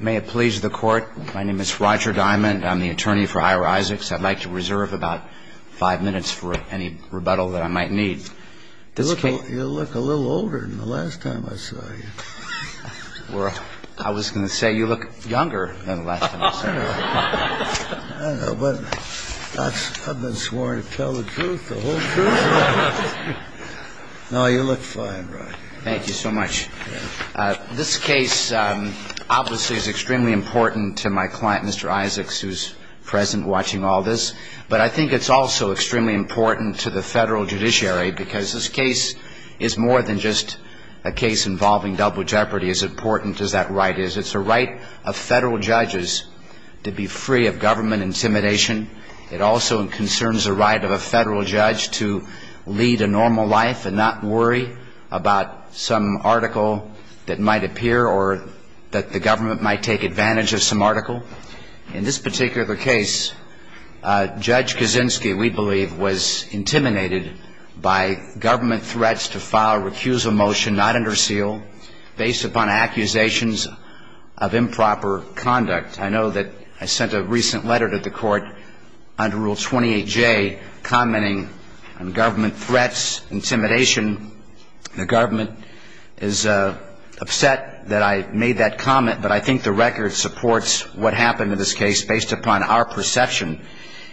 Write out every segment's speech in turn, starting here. May it please the court. My name is Roger Diamond. I'm the attorney for Ira Isaacs. I'd like to reserve about five minutes for any rebuttal that I might need. You look a little older than the last time I saw you. Well, I was going to say you look younger than the last time I saw you. I don't know, but I've been sworn to tell the truth, the whole truth. No, you look fine, Roger. Thank you so much. This case obviously is extremely important to my client, Mr. Isaacs, who's present watching all this. But I think it's also extremely important to the federal judiciary because this case is more than just a case involving double jeopardy. As important as that right is, it's a right of federal judges to be free of government intimidation. It also concerns the right of a federal judge to lead a normal life and not worry about some article that might appear or that the government might take advantage of some article. In this particular case, Judge Kaczynski, we believe, was intimidated by government threats to file a recusal motion not under seal based upon accusations of improper conduct. I know that I sent a recent letter to the Court under Rule 28J commenting on government threats, intimidation. The government is upset that I made that comment, but I think the record supports what happened in this case based upon our perception,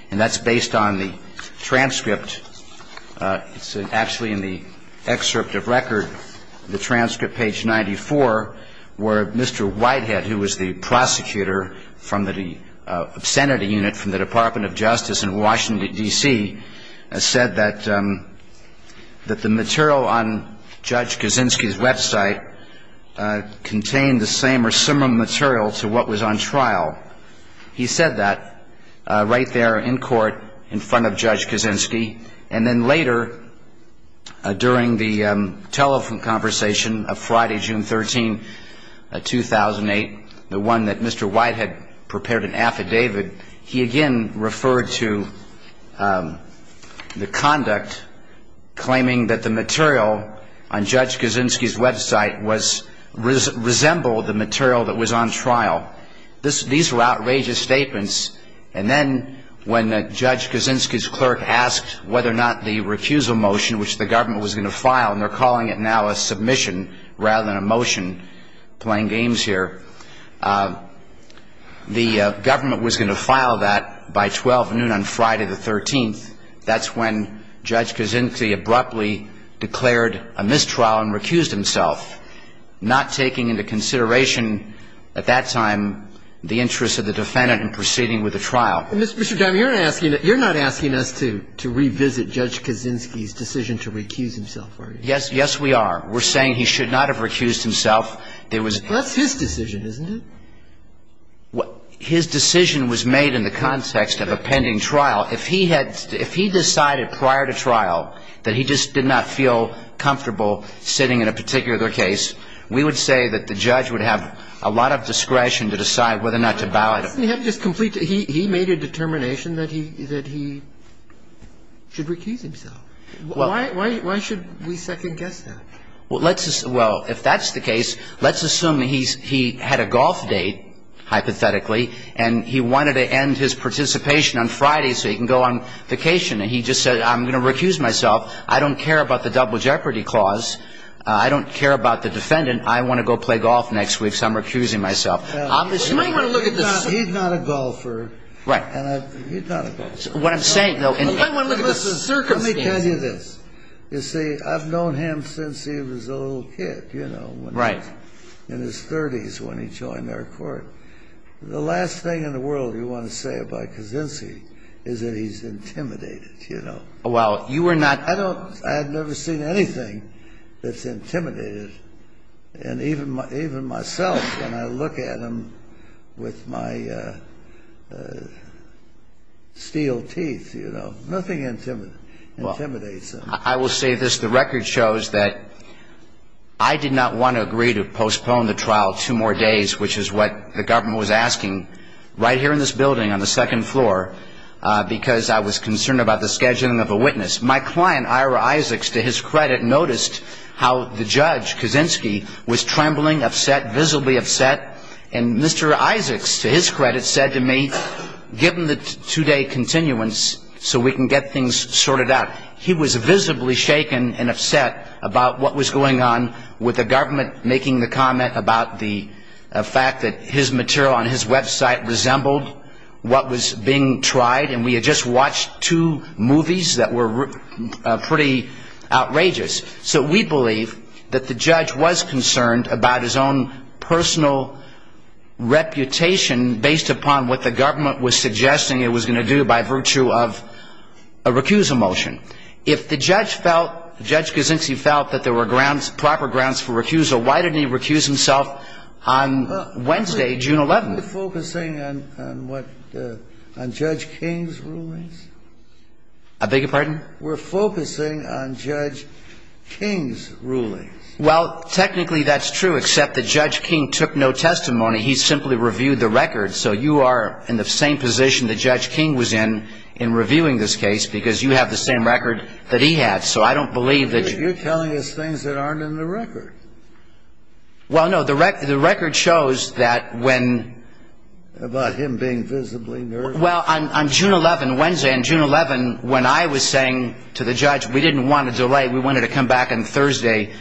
and that's based on the transcript. It's actually in the excerpt of record, the transcript, page 94, where Mr. Whitehead, who was the prosecutor from the obscenity unit from the Department of Justice in Washington, D.C., said that the material on Judge Kaczynski's website contained the same or similar material to what was on trial. He said that right there in court in front of Judge Kaczynski, and then later during the telephone conversation of Friday, June 13, 2008, the one that Mr. Whitehead prepared an affidavit, he again referred to the conduct claiming that the material on Judge Kaczynski's website resembled the material that was on trial. These were outrageous statements, and then when Judge Kaczynski's clerk asked whether or not the recusal motion, which the government was going to file, and they're calling it now a submission rather than a motion, playing games here, the government was going to file that by 12 noon on Friday the 13th. That's when Judge Kaczynski abruptly declared a mistrial and recused himself, not taking into consideration at that time the interests of the defendant in proceeding with the trial. Mr. Dimer, you're not asking us to revisit Judge Kaczynski's decision to recuse himself, are you? Yes. Yes, we are. We're saying he should not have recused himself. That's his decision, isn't it? His decision was made in the context of a pending trial. If he had to – if he decided prior to trial that he just did not feel comfortable sitting in a particular case, we would say that the judge would have a lot of discretion to decide whether or not to ballot. He made a determination that he should recuse himself. Why should we second-guess that? Well, let's – well, if that's the case, let's assume he's – he had a golf date, hypothetically, and he wanted to end his participation on Friday so he can go on vacation. And he just said, I'm going to recuse myself. I don't care about the double jeopardy clause. I don't care about the defendant. I want to go play golf next week, so I'm recusing myself. I'm assuming – He's not a golfer. Right. He's not a golfer. What I'm saying, though – Let me tell you this. You see, I've known him since he was a little kid, you know. Right. In his 30s when he joined our court. The last thing in the world you want to say about Kaczynski is that he's intimidated, you know. Well, you were not – I don't – I had never seen anything that's intimidated. And even myself, when I look at him with my steel teeth, you know, nothing intimidates him. I will say this. The record shows that I did not want to agree to postpone the trial two more days, which is what the government was asking, right here in this building on the second floor, because I was concerned about the scheduling of a witness. My client, Ira Isaacs, to his credit, noticed how the judge, Kaczynski, was trembling, upset, visibly upset. And Mr. Isaacs, to his credit, said to me, given the two-day continuance so we can get things sorted out, he was visibly shaken and upset about what was going on with the government making the comment about the fact that his material on his website resembled what was being tried. And we had just watched two movies that were pretty outrageous. So we believe that the judge was concerned about his own personal reputation based upon what the government was suggesting it was going to do by virtue of a recusal motion. If the judge felt, Judge Kaczynski felt, that there were grounds, proper grounds for recusal, why didn't he recuse himself on Wednesday, June 11th? We're focusing on what, on Judge King's rulings? I beg your pardon? We're focusing on Judge King's rulings. Well, technically that's true, except that Judge King took no testimony. He simply reviewed the record. So you are in the same position that Judge King was in, in reviewing this case, because you have the same record that he had. So I don't believe that you're telling us things that aren't in the record. Well, no, the record shows that when… About him being visibly nervous. Well, on June 11th, Wednesday, on June 11th, when I was saying to the judge we didn't want to delay, we wanted to come back on Thursday,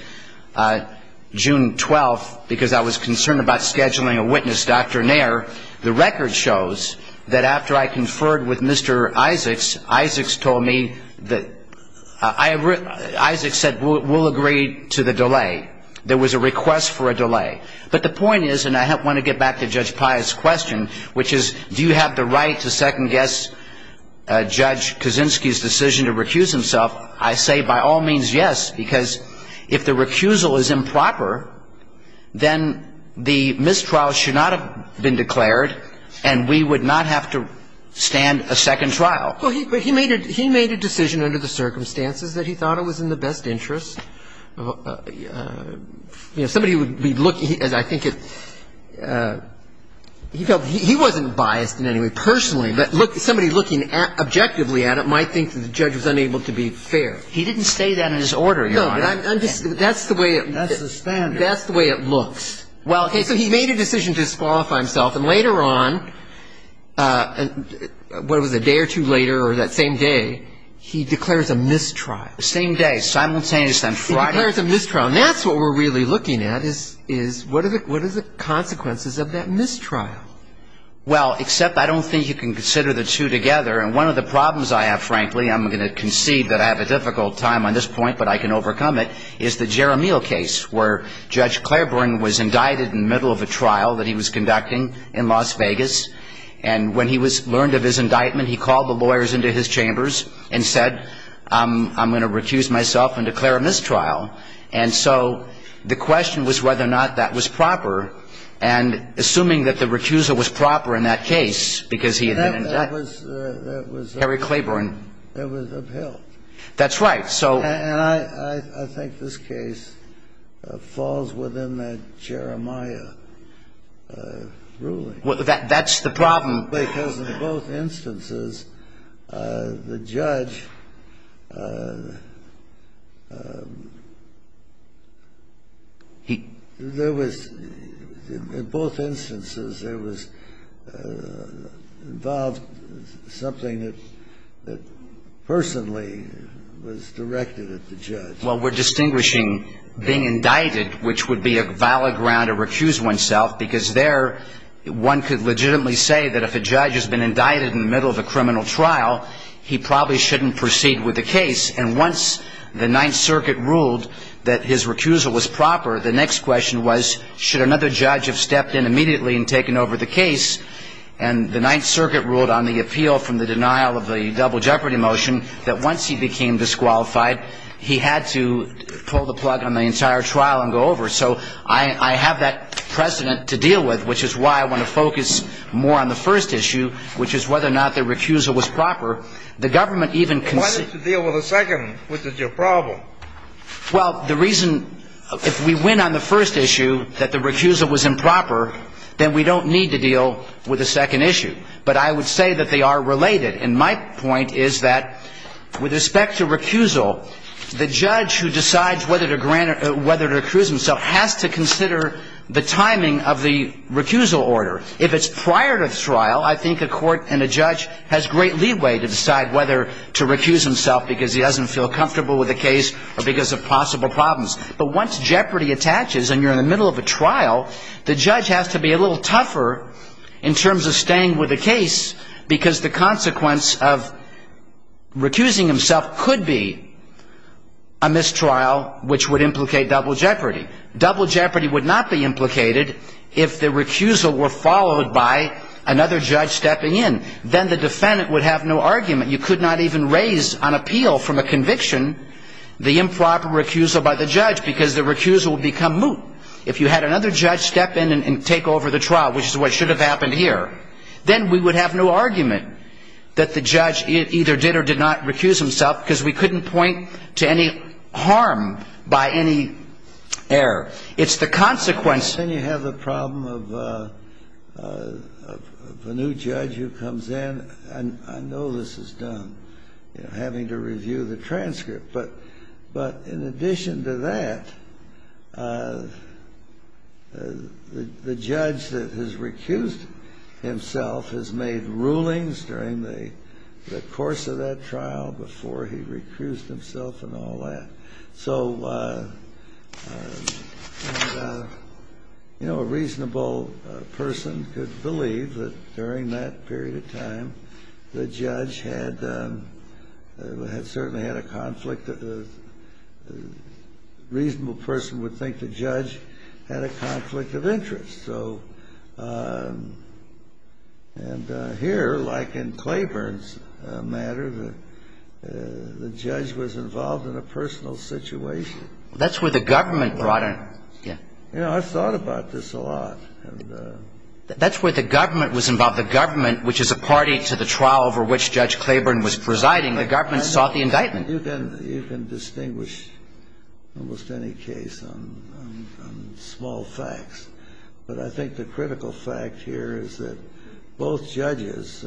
June 12th, because I was concerned about scheduling a witness, Dr. Nair, the record shows that after I conferred with Mr. Isaacs, Isaacs told me that – Isaacs said we'll agree to the delay. There was a request for a delay. But the point is, and I want to get back to Judge Pius' question, which is do you have the right to second-guess Judge Kaczynski's decision to recuse himself? I say by all means, yes, because if the recusal is improper, then the mistrial should not have been declared and we would not have to stand a second trial. Well, he made a decision under the circumstances that he thought it was in the best interest. You know, somebody would be looking, as I think it – he wasn't biased in any way personally, but somebody looking objectively at it might think that the judge was unable to be fair. He didn't say that in his order, Your Honor. No. That's the way it – That's the standard. That's the way it looks. Well, okay. So he made a decision to disqualify himself, and later on, what was it, a day or two later or that same day, he declares a mistrial. The same day, simultaneously on Friday? He declares a mistrial. And that's what we're really looking at is what are the consequences of that mistrial? Well, except I don't think you can consider the two together. And one of the problems I have, frankly – I'm going to concede that I have a difficult time on this point, but I can overcome it – is the Jeremiel case where Judge Claiborne was indicted in the middle of a trial that he was conducting in Las Vegas. And when he learned of his indictment, he called the lawyers into his chambers and said, I'm going to recuse myself and declare a mistrial. And so the question was whether or not that was proper. And assuming that the recuser was proper in that case, because he had been indicted. That was – that was – Harry Claiborne. It was upheld. That's right. And I think this case falls within that Jeremiah ruling. That's the problem. Because in both instances, the judge – there was – in both instances, there was involved something that personally was directed at the judge. Well, we're distinguishing being indicted, which would be a valid ground to recuse oneself, because there one could legitimately say that if a judge has been indicted in the middle of a criminal trial, he probably shouldn't proceed with the case. And once the Ninth Circuit ruled that his recusal was proper, the next question was, should another judge have stepped in immediately and taken over the case? And the Ninth Circuit ruled on the appeal from the denial of the double jeopardy motion that once he became disqualified, he had to pull the plug on the entire trial and go over. So I have that precedent to deal with, which is why I want to focus more on the first issue, which is whether or not the recusal was proper. The government even – Why don't you deal with the second, which is your problem? Well, the reason – if we win on the first issue that the recusal was improper, then we don't need to deal with the second issue. But I would say that they are related. And my point is that with respect to recusal, the judge who decides whether to grant – whether to recuse himself has to consider the timing of the recusal order. If it's prior to the trial, I think a court and a judge has great leeway to decide whether to recuse himself because he doesn't feel comfortable with the case or because of possible problems. But once jeopardy attaches and you're in the middle of a trial, the judge has to be a little tougher in terms of staying with the case because the consequence of recusing himself could be a mistrial, which would implicate double jeopardy. Double jeopardy would not be implicated if the recusal were followed by another judge stepping in. Then the defendant would have no argument. You could not even raise on appeal from a conviction the improper recusal by the judge because the recusal would become moot. If you had another judge step in and take over the trial, which is what should have happened here, then we would have no argument that the judge either did or did not recuse himself because we couldn't point to any harm by any error. It's the consequence. Then you have the problem of a new judge who comes in. I know this is done, having to review the transcript. But in addition to that, the judge that has recused himself has made rulings during the course of that trial before he recused himself and all that. So a reasonable person could believe that during that period of time, the judge had certainly had a conflict. A reasonable person would think the judge had a conflict of interest. And here, like in Claiborne's matter, the judge was involved in a personal situation. That's where the government brought in. I thought about this a lot. That's where the government was involved. The government, which is a party to the trial over which Judge Claiborne was presiding, the government sought the indictment. You can distinguish almost any case on small facts. But I think the critical fact here is that both judges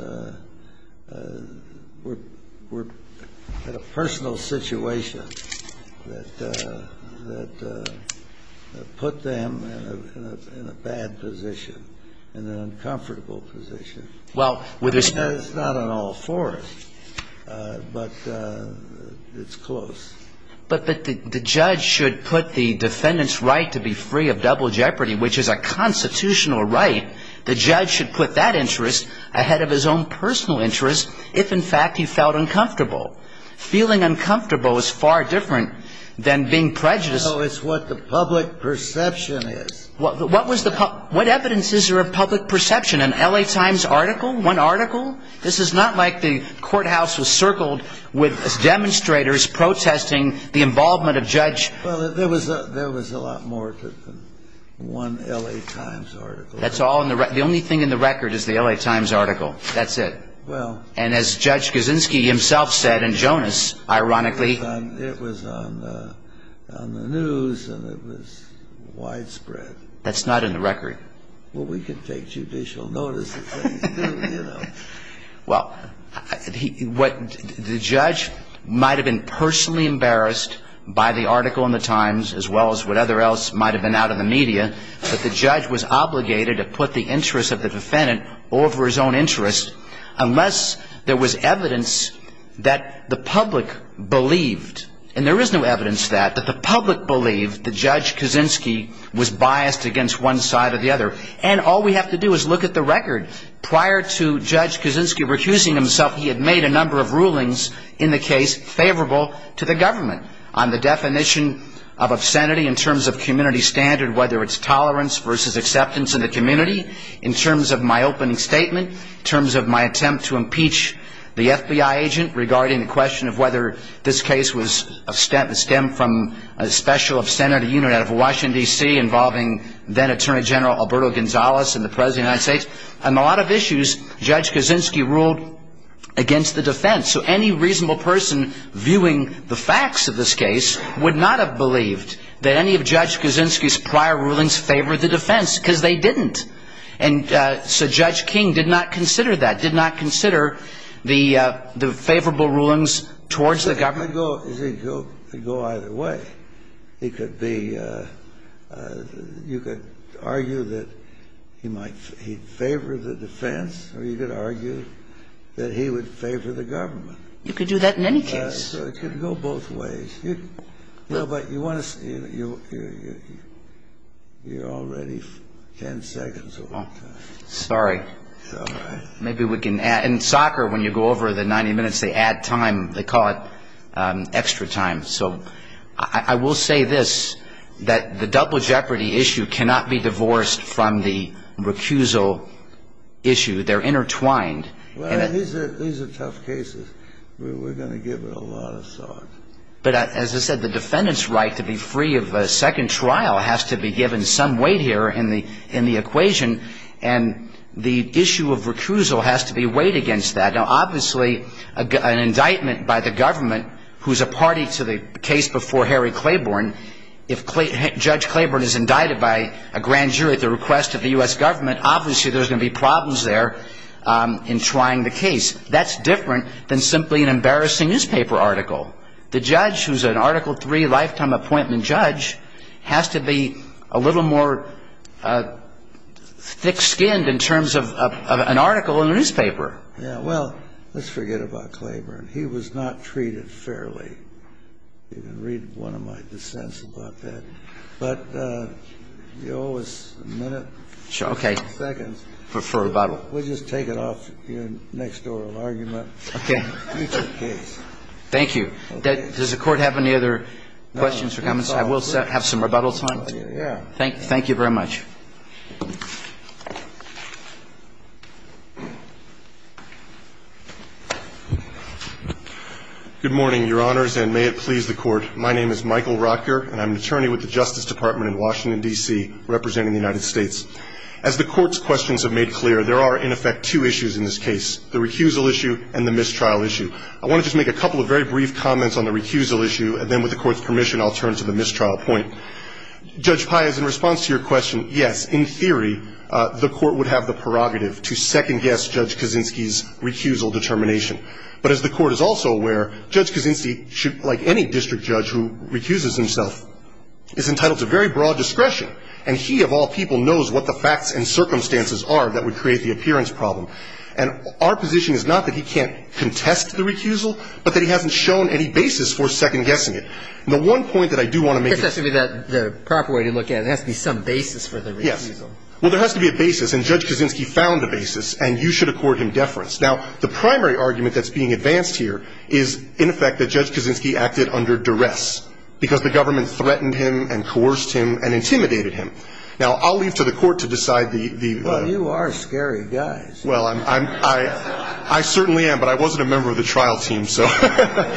were in a personal situation that put them in a bad position, in an uncomfortable position. It's not an all fours, but it's close. But the judge should put the defendant's right to be free of double jeopardy, which is a constitutional right, the judge should put that interest ahead of his own personal interest if, in fact, he felt uncomfortable. Feeling uncomfortable is far different than being prejudiced. No, it's what the public perception is. What evidence is there of public perception? An L.A. Times article? One article? This is not like the courthouse was circled with demonstrators protesting the involvement of Judge. Well, there was a lot more to it than one L.A. Times article. The only thing in the record is the L.A. Times article. That's it. And as Judge Kaczynski himself said, and Jonas, ironically. It was on the news and it was widespread. That's not in the record. Well, we can take judicial notice of things, too, you know. Well, what the judge might have been personally embarrassed by the article in the Times as well as what other else might have been out in the media, that the judge was obligated to put the interest of the defendant over his own interest unless there was evidence that the public believed, and there is no evidence of that, that the public believed that Judge Kaczynski was biased against one side or the other. And all we have to do is look at the record. Prior to Judge Kaczynski recusing himself, he had made a number of rulings in the case favorable to the government on the definition of obscenity in terms of community standard, whether it's tolerance versus acceptance in the community, in terms of my opening statement, in terms of my attempt to impeach the FBI agent regarding the question of whether this case stemmed from a special obscenity unit out of Washington, D.C. involving then Attorney General Alberto Gonzalez and the President of the United States. On a lot of issues, Judge Kaczynski ruled against the defense. So any reasonable person viewing the facts of this case would not have believed that any of Judge Kaczynski's prior rulings favored the defense because they didn't. And so Judge King did not consider that, did not consider the favorable rulings towards the government. He could go either way. He could be you could argue that he might favor the defense or he could argue that he would favor the government. You could do that in any case. So it could go both ways. You know, but you want to you're already 10 seconds over time. Sorry. It's all right. Maybe we can add. In soccer, when you go over the 90 minutes, they add time. They call it extra time. So I will say this, that the double jeopardy issue cannot be divorced from the recusal issue. They're intertwined. These are tough cases. We're going to give it a lot of thought. But as I said, the defendant's right to be free of a second trial has to be given some weight here in the equation. And the issue of recusal has to be weighed against that. Now, obviously, an indictment by the government, who's a party to the case before Harry Claiborne, if Judge Claiborne is indicted by a grand jury at the request of the U.S. government, obviously there's going to be problems there in trying the case. That's different than simply an embarrassing newspaper article. The judge, who's an Article III lifetime appointment judge, has to be a little more thick-skinned in terms of an article in a newspaper. Yeah, well, let's forget about Claiborne. He was not treated fairly. You can read one of my dissents about that. But you owe us a minute. Okay. For rebuttal. We'll just take it off your next oral argument. Okay. Future case. Thank you. Does the Court have any other questions or comments? I will have some rebuttal time. Thank you very much. Good morning, Your Honors, and may it please the Court. My name is Michael Rocker, and I'm an attorney with the Justice Department in Washington, D.C., representing the United States. As the Court's questions have made clear, there are, in effect, two issues in this case, the recusal issue and the mistrial issue. I want to just make a couple of very brief comments on the recusal issue, and then with the Court's permission, I'll turn to the mistrial point. Judge Pius, in response to your question, yes, in theory, the Court would have the prerogative to second-guess Judge Kaczynski's recusal determination. But as the Court is also aware, Judge Kaczynski, like any district judge who recuses himself, is entitled to very broad discretion. And he, of all people, knows what the facts and circumstances are that would create the appearance problem. And our position is not that he can't contest the recusal, but that he hasn't shown any basis for second-guessing it. The one point that I do want to make is that the proper way to look at it, there has to be some basis for the recusal. Yes. Well, there has to be a basis, and Judge Kaczynski found a basis, and you should accord him deference. Now, the primary argument that's being advanced here is, in effect, that Judge Kaczynski acted under duress because the government threatened him and coerced him and intimidated him. Now, I'll leave to the Court to decide the ---- Well, you are scary guys. Well, I certainly am, but I wasn't a member of the trial team, so ----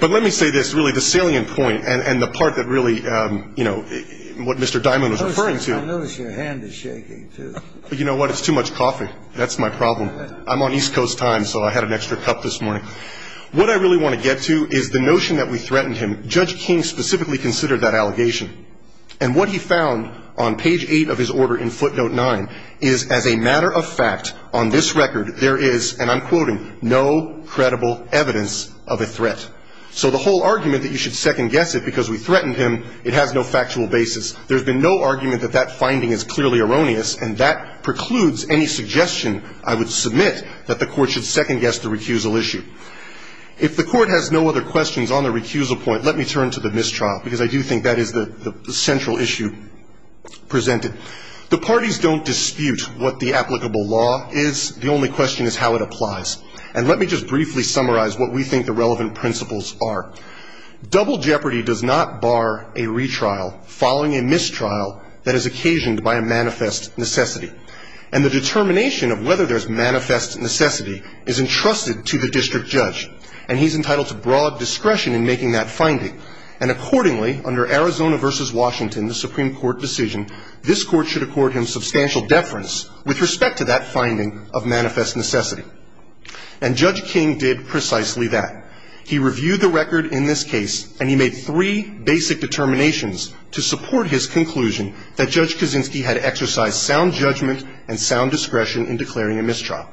But let me say this, really, the salient point and the part that really, you know, what Mr. Dimon was referring to ---- I notice your hand is shaking, too. You know what? It's too much coughing. That's my problem. I'm on East Coast time, so I had an extra cup this morning. What I really want to get to is the notion that we threatened him. Judge King specifically considered that allegation, and what he found on page 8 of his order in footnote 9 is, as a matter of fact, on this record, there is, and I'm quoting, no credible evidence of a threat. So the whole argument that you should second guess it because we threatened him, it has no factual basis. There's been no argument that that finding is clearly erroneous, and that precludes any suggestion I would submit that the Court should second guess the recusal issue. If the Court has no other questions on the recusal point, let me turn to the mistrial, because I do think that is the central issue presented. The parties don't dispute what the applicable law is. The only question is how it applies. And let me just briefly summarize what we think the relevant principles are. Double jeopardy does not bar a retrial following a mistrial that is occasioned by a manifest necessity. And the determination of whether there's manifest necessity is entrusted to the district judge, and he's entitled to broad discretion in making that finding. And accordingly, under Arizona v. Washington, the Supreme Court decision, this Court should accord him substantial deference with respect to that finding of manifest necessity. And Judge King did precisely that. He reviewed the record in this case, and he made three basic determinations to support his conclusion that Judge Kaczynski had exercised sound judgment and sound discretion in declaring a mistrial.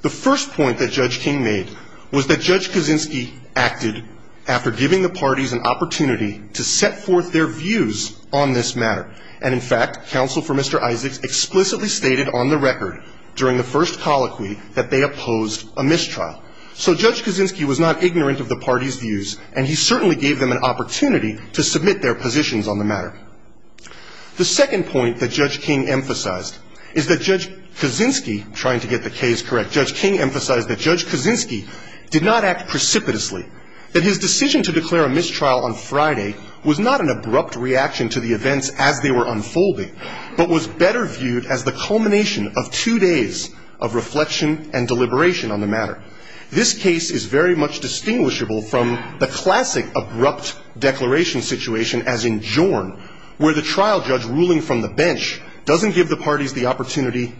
The first point that Judge King made was that Judge Kaczynski acted after giving the parties an opportunity to set forth their views on this matter. And, in fact, counsel for Mr. Isaacs explicitly stated on the record during the first colloquy that they opposed a mistrial. So Judge Kaczynski was not ignorant of the parties' views, and he certainly gave them an opportunity to submit their positions on the matter. The second point that Judge King emphasized is that Judge Kaczynski, trying to get the case correct, Judge King emphasized that Judge Kaczynski did not act precipitously, that his decision to declare a mistrial on Friday was not an abrupt reaction to the events as they were unfolding, but was better viewed as the culmination of two days of reflection and deliberation on the matter. This case is very much distinguishable from the classic abrupt declaration situation, as in Jorn, where the trial judge ruling from the bench doesn't give the parties the opportunity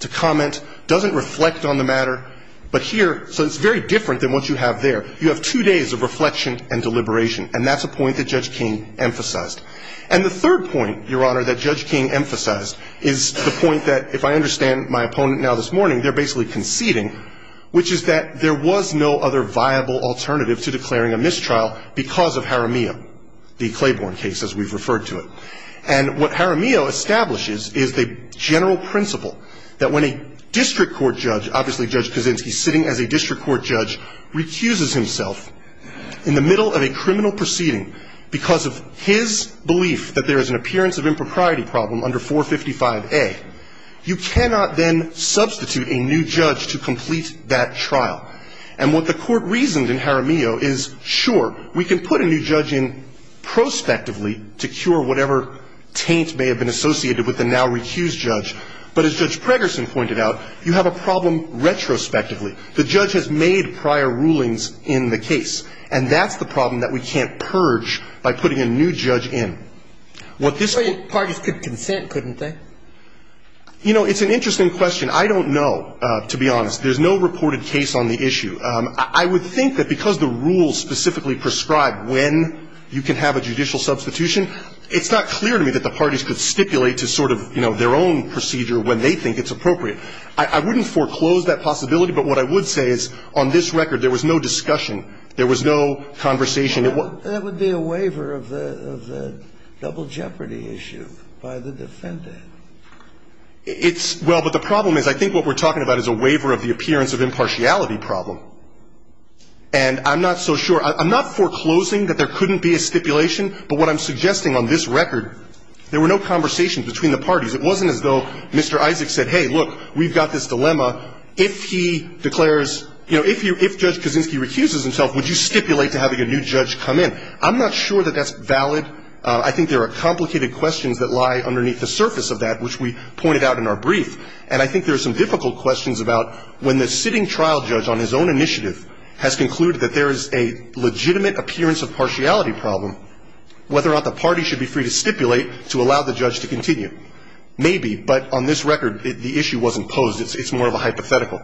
to comment, doesn't reflect on the matter. But here, so it's very different than what you have there. You have two days of reflection and deliberation, and that's a point that Judge King emphasized. And the third point, Your Honor, that Judge King emphasized is the point that, if I understand my opponent now this morning, they're basically conceding, which is that there was no other viable alternative to declaring a mistrial because of Jaramillo, the Claiborne case, as we've referred to it. And what Jaramillo establishes is the general principle that when a district court judge, obviously Judge Kaczynski sitting as a district court judge, recuses himself in the middle of a criminal proceeding because of his belief that there is an appearance of impropriety problem under 455A, you cannot then substitute a new judge to complete that trial. And what the court reasoned in Jaramillo is, sure, we can put a new judge in prospectively to cure whatever taint may have been associated with the now recused judge. But as Judge Pregerson pointed out, you have a problem retrospectively. The judge has made prior rulings in the case, and that's the problem that we can't purge by putting a new judge in. What this one --- Well, the parties could consent, couldn't they? You know, it's an interesting question. I don't know, to be honest. There's no reported case on the issue. I would think that because the rules specifically prescribe when you can have a judicial substitution, it's not clear to me that the parties could stipulate to sort of, you know, their own procedure when they think it's appropriate. I wouldn't foreclose that possibility, but what I would say is on this record, there was no discussion. There was no conversation. That would be a waiver of the double jeopardy issue by the defendant. Well, but the problem is I think what we're talking about is a waiver of the appearance of impartiality problem. And I'm not so sure. I'm not foreclosing that there couldn't be a stipulation, but what I'm suggesting on this record, there were no conversations between the parties. It wasn't as though Mr. Isaac said, hey, look, we've got this dilemma. If he declares, you know, if Judge Kaczynski recuses himself, would you stipulate to having a new judge come in? I'm not sure that that's valid. I think there are complicated questions that lie underneath the surface of that, which we pointed out in our brief. And I think there are some difficult questions about when the sitting trial judge on his own initiative has concluded that there is a legitimate appearance of partiality problem, whether or not the party should be free to stipulate to allow the judge to continue. Maybe, but on this record, the issue wasn't posed. It's more of a hypothetical.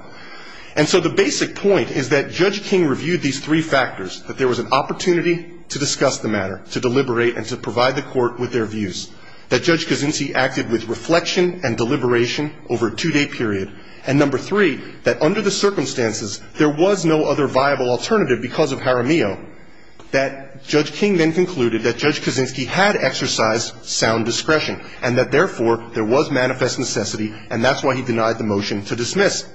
And so the basic point is that Judge King reviewed these three factors, that there was an opportunity to discuss the matter, to deliberate, and to provide the court with their views, that Judge Kaczynski acted with reflection and deliberation over a two-day period, and number three, that under the circumstances, there was no other viable alternative because of Jaramillo, that Judge King then concluded that Judge Kaczynski had exercised sound discretion and that, therefore, there was manifest necessity, and that's why he denied the motion to dismiss.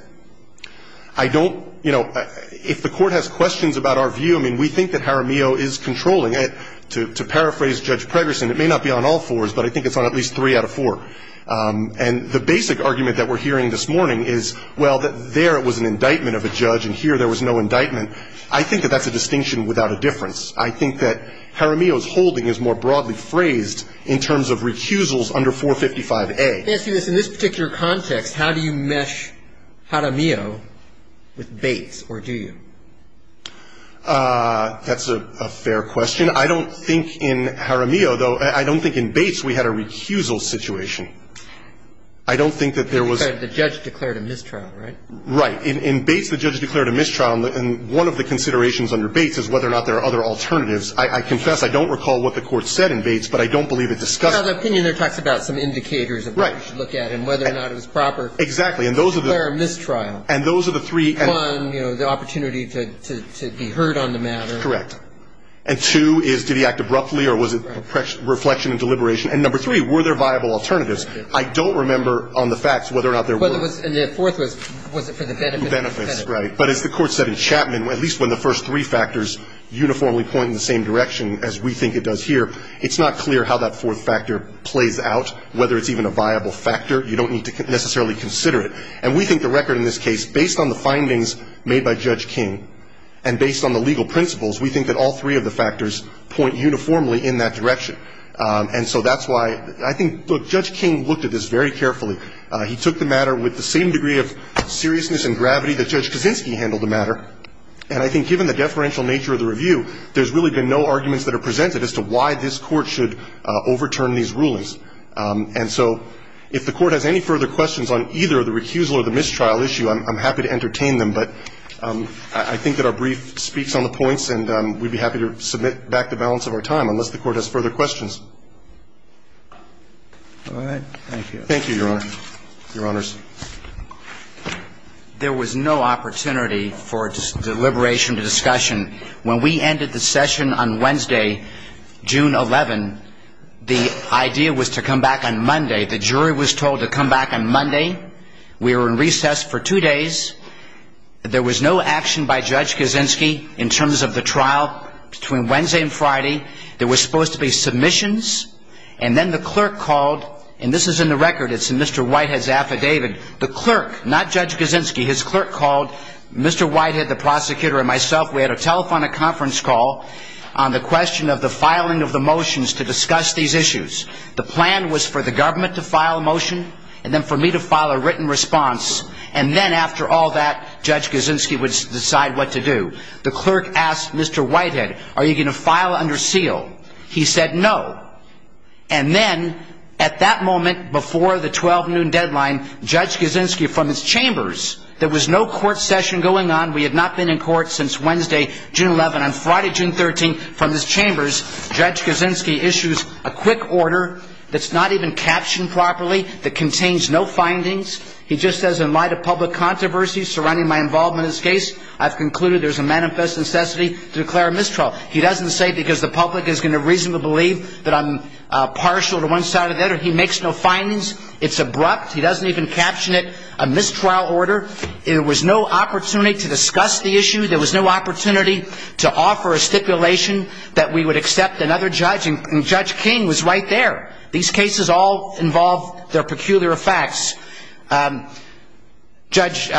I don't, you know, if the court has questions about our view, I mean, we think that Jaramillo is controlling it. To paraphrase Judge Pregerson, it may not be on all fours, but I think it's on at least three out of four. And the basic argument that we're hearing this morning is, well, that there was an indictment of a judge and here there was no indictment. I think that that's a distinction without a difference. I think that Jaramillo's holding is more broadly phrased in terms of recusals under 455A. In this particular context, how do you mesh Jaramillo with Bates, or do you? That's a fair question. I don't think in Jaramillo, though, I don't think in Bates we had a recusal situation. I don't think that there was – The judge declared a mistrial, right? Right. In Bates, the judge declared a mistrial, and one of the considerations under Bates is whether or not there are other alternatives. I confess I don't recall what the Court said in Bates, but I don't believe it discussed – Well, the opinion there talks about some indicators of what you should look at and whether or not it was proper. Exactly. And those are the – To declare a mistrial. And those are the three – One, you know, the opportunity to be heard on the matter. Correct. And two is, did he act abruptly or was it reflection and deliberation? And number three, were there viable alternatives? I don't remember on the facts whether or not there were. And the fourth was, was it for the benefit of the defendant? Benefits, right. But as the Court said in Chapman, at least when the first three factors uniformly point in the same direction as we think it does here, it's not clear how that fourth factor plays out, whether it's even a viable factor. You don't need to necessarily consider it. And we think the record in this case, based on the findings made by Judge King and based on the legal principles, we think that all three of the factors point uniformly in that direction. And so that's why I think – look, Judge King looked at this very carefully. He took the matter with the same degree of seriousness and gravity that Judge Kaczynski handled the matter. And I think given the deferential nature of the review, there's really been no arguments that are presented as to why this Court should overturn these rulings. And so if the Court has any further questions on either the recusal or the mistrial issue, I'm happy to entertain them. But I think that our brief speaks on the points, and we'd be happy to submit back the balance of our time, unless the Court has further questions. All right. Thank you. Thank you, Your Honor. Your Honors. There was no opportunity for deliberation to discussion. When we ended the session on Wednesday, June 11, the idea was to come back on Monday. The jury was told to come back on Monday. We were in recess for two days. There was no action by Judge Kaczynski in terms of the trial between Wednesday and Friday. There was supposed to be submissions. And then the clerk called, and this is in the record. It's in Mr. Whitehead's affidavit. The clerk, not Judge Kaczynski, his clerk called Mr. Whitehead, the prosecutor, and myself. We had a telephonic conference call on the question of the filing of the motions to discuss these issues. The plan was for the government to file a motion and then for me to file a written response. And then after all that, Judge Kaczynski would decide what to do. The clerk asked Mr. Whitehead, are you going to file under seal? He said no. And then at that moment before the 12 noon deadline, Judge Kaczynski from his chambers, there was no court session going on. We had not been in court since Wednesday, June 11th. On Friday, June 13th, from his chambers, Judge Kaczynski issues a quick order that's not even captioned properly, that contains no findings. He just says in light of public controversy surrounding my involvement in this case, I've concluded there's a manifest necessity to declare a mistrial. He doesn't say because the public is going to reasonably believe that I'm partial to one side or the other. He makes no findings. It's abrupt. He doesn't even caption it a mistrial order. There was no opportunity to discuss the issue. There was no opportunity to offer a stipulation that we would accept another judge, and Judge King was right there. These cases all involve their peculiar facts. Judge,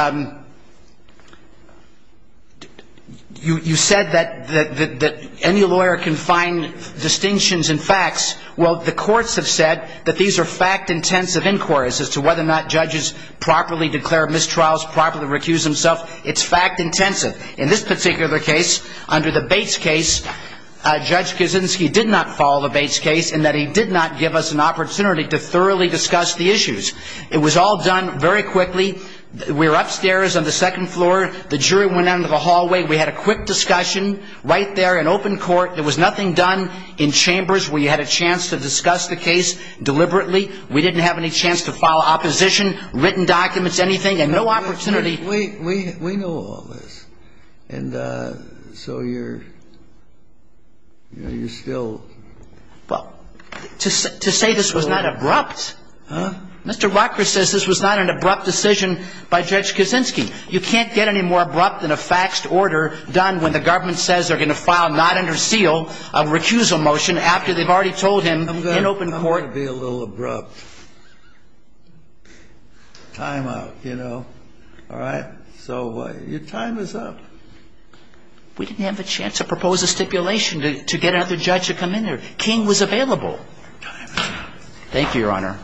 you said that any lawyer can find distinctions in facts. Well, the courts have said that these are fact-intensive inquiries as to whether or not judges properly declare mistrials, properly recuse themselves. It's fact-intensive. In this particular case, under the Bates case, Judge Kaczynski did not follow the Bates case in that he did not give us an opportunity to thoroughly discuss the issues. It was all done very quickly. We were upstairs on the second floor. The jury went down to the hallway. We had a quick discussion right there in open court. There was nothing done in chambers. We had a chance to discuss the case deliberately. We didn't have any chance to file opposition, written documents, anything, and no opportunity. Wait. We know all this. And so you're still ---- Well, to say this was not abrupt. Huh? Mr. Rutgers says this was not an abrupt decision by Judge Kaczynski. You can't get any more abrupt than a faxed order done when the government says they're going to file not under seal a recusal motion after they've already told him in open court ---- Time out. Time out, you know. All right? So your time is up. We didn't have a chance to propose a stipulation to get another judge to come in there. King was available. Your time is up. Thank you, Your Honor.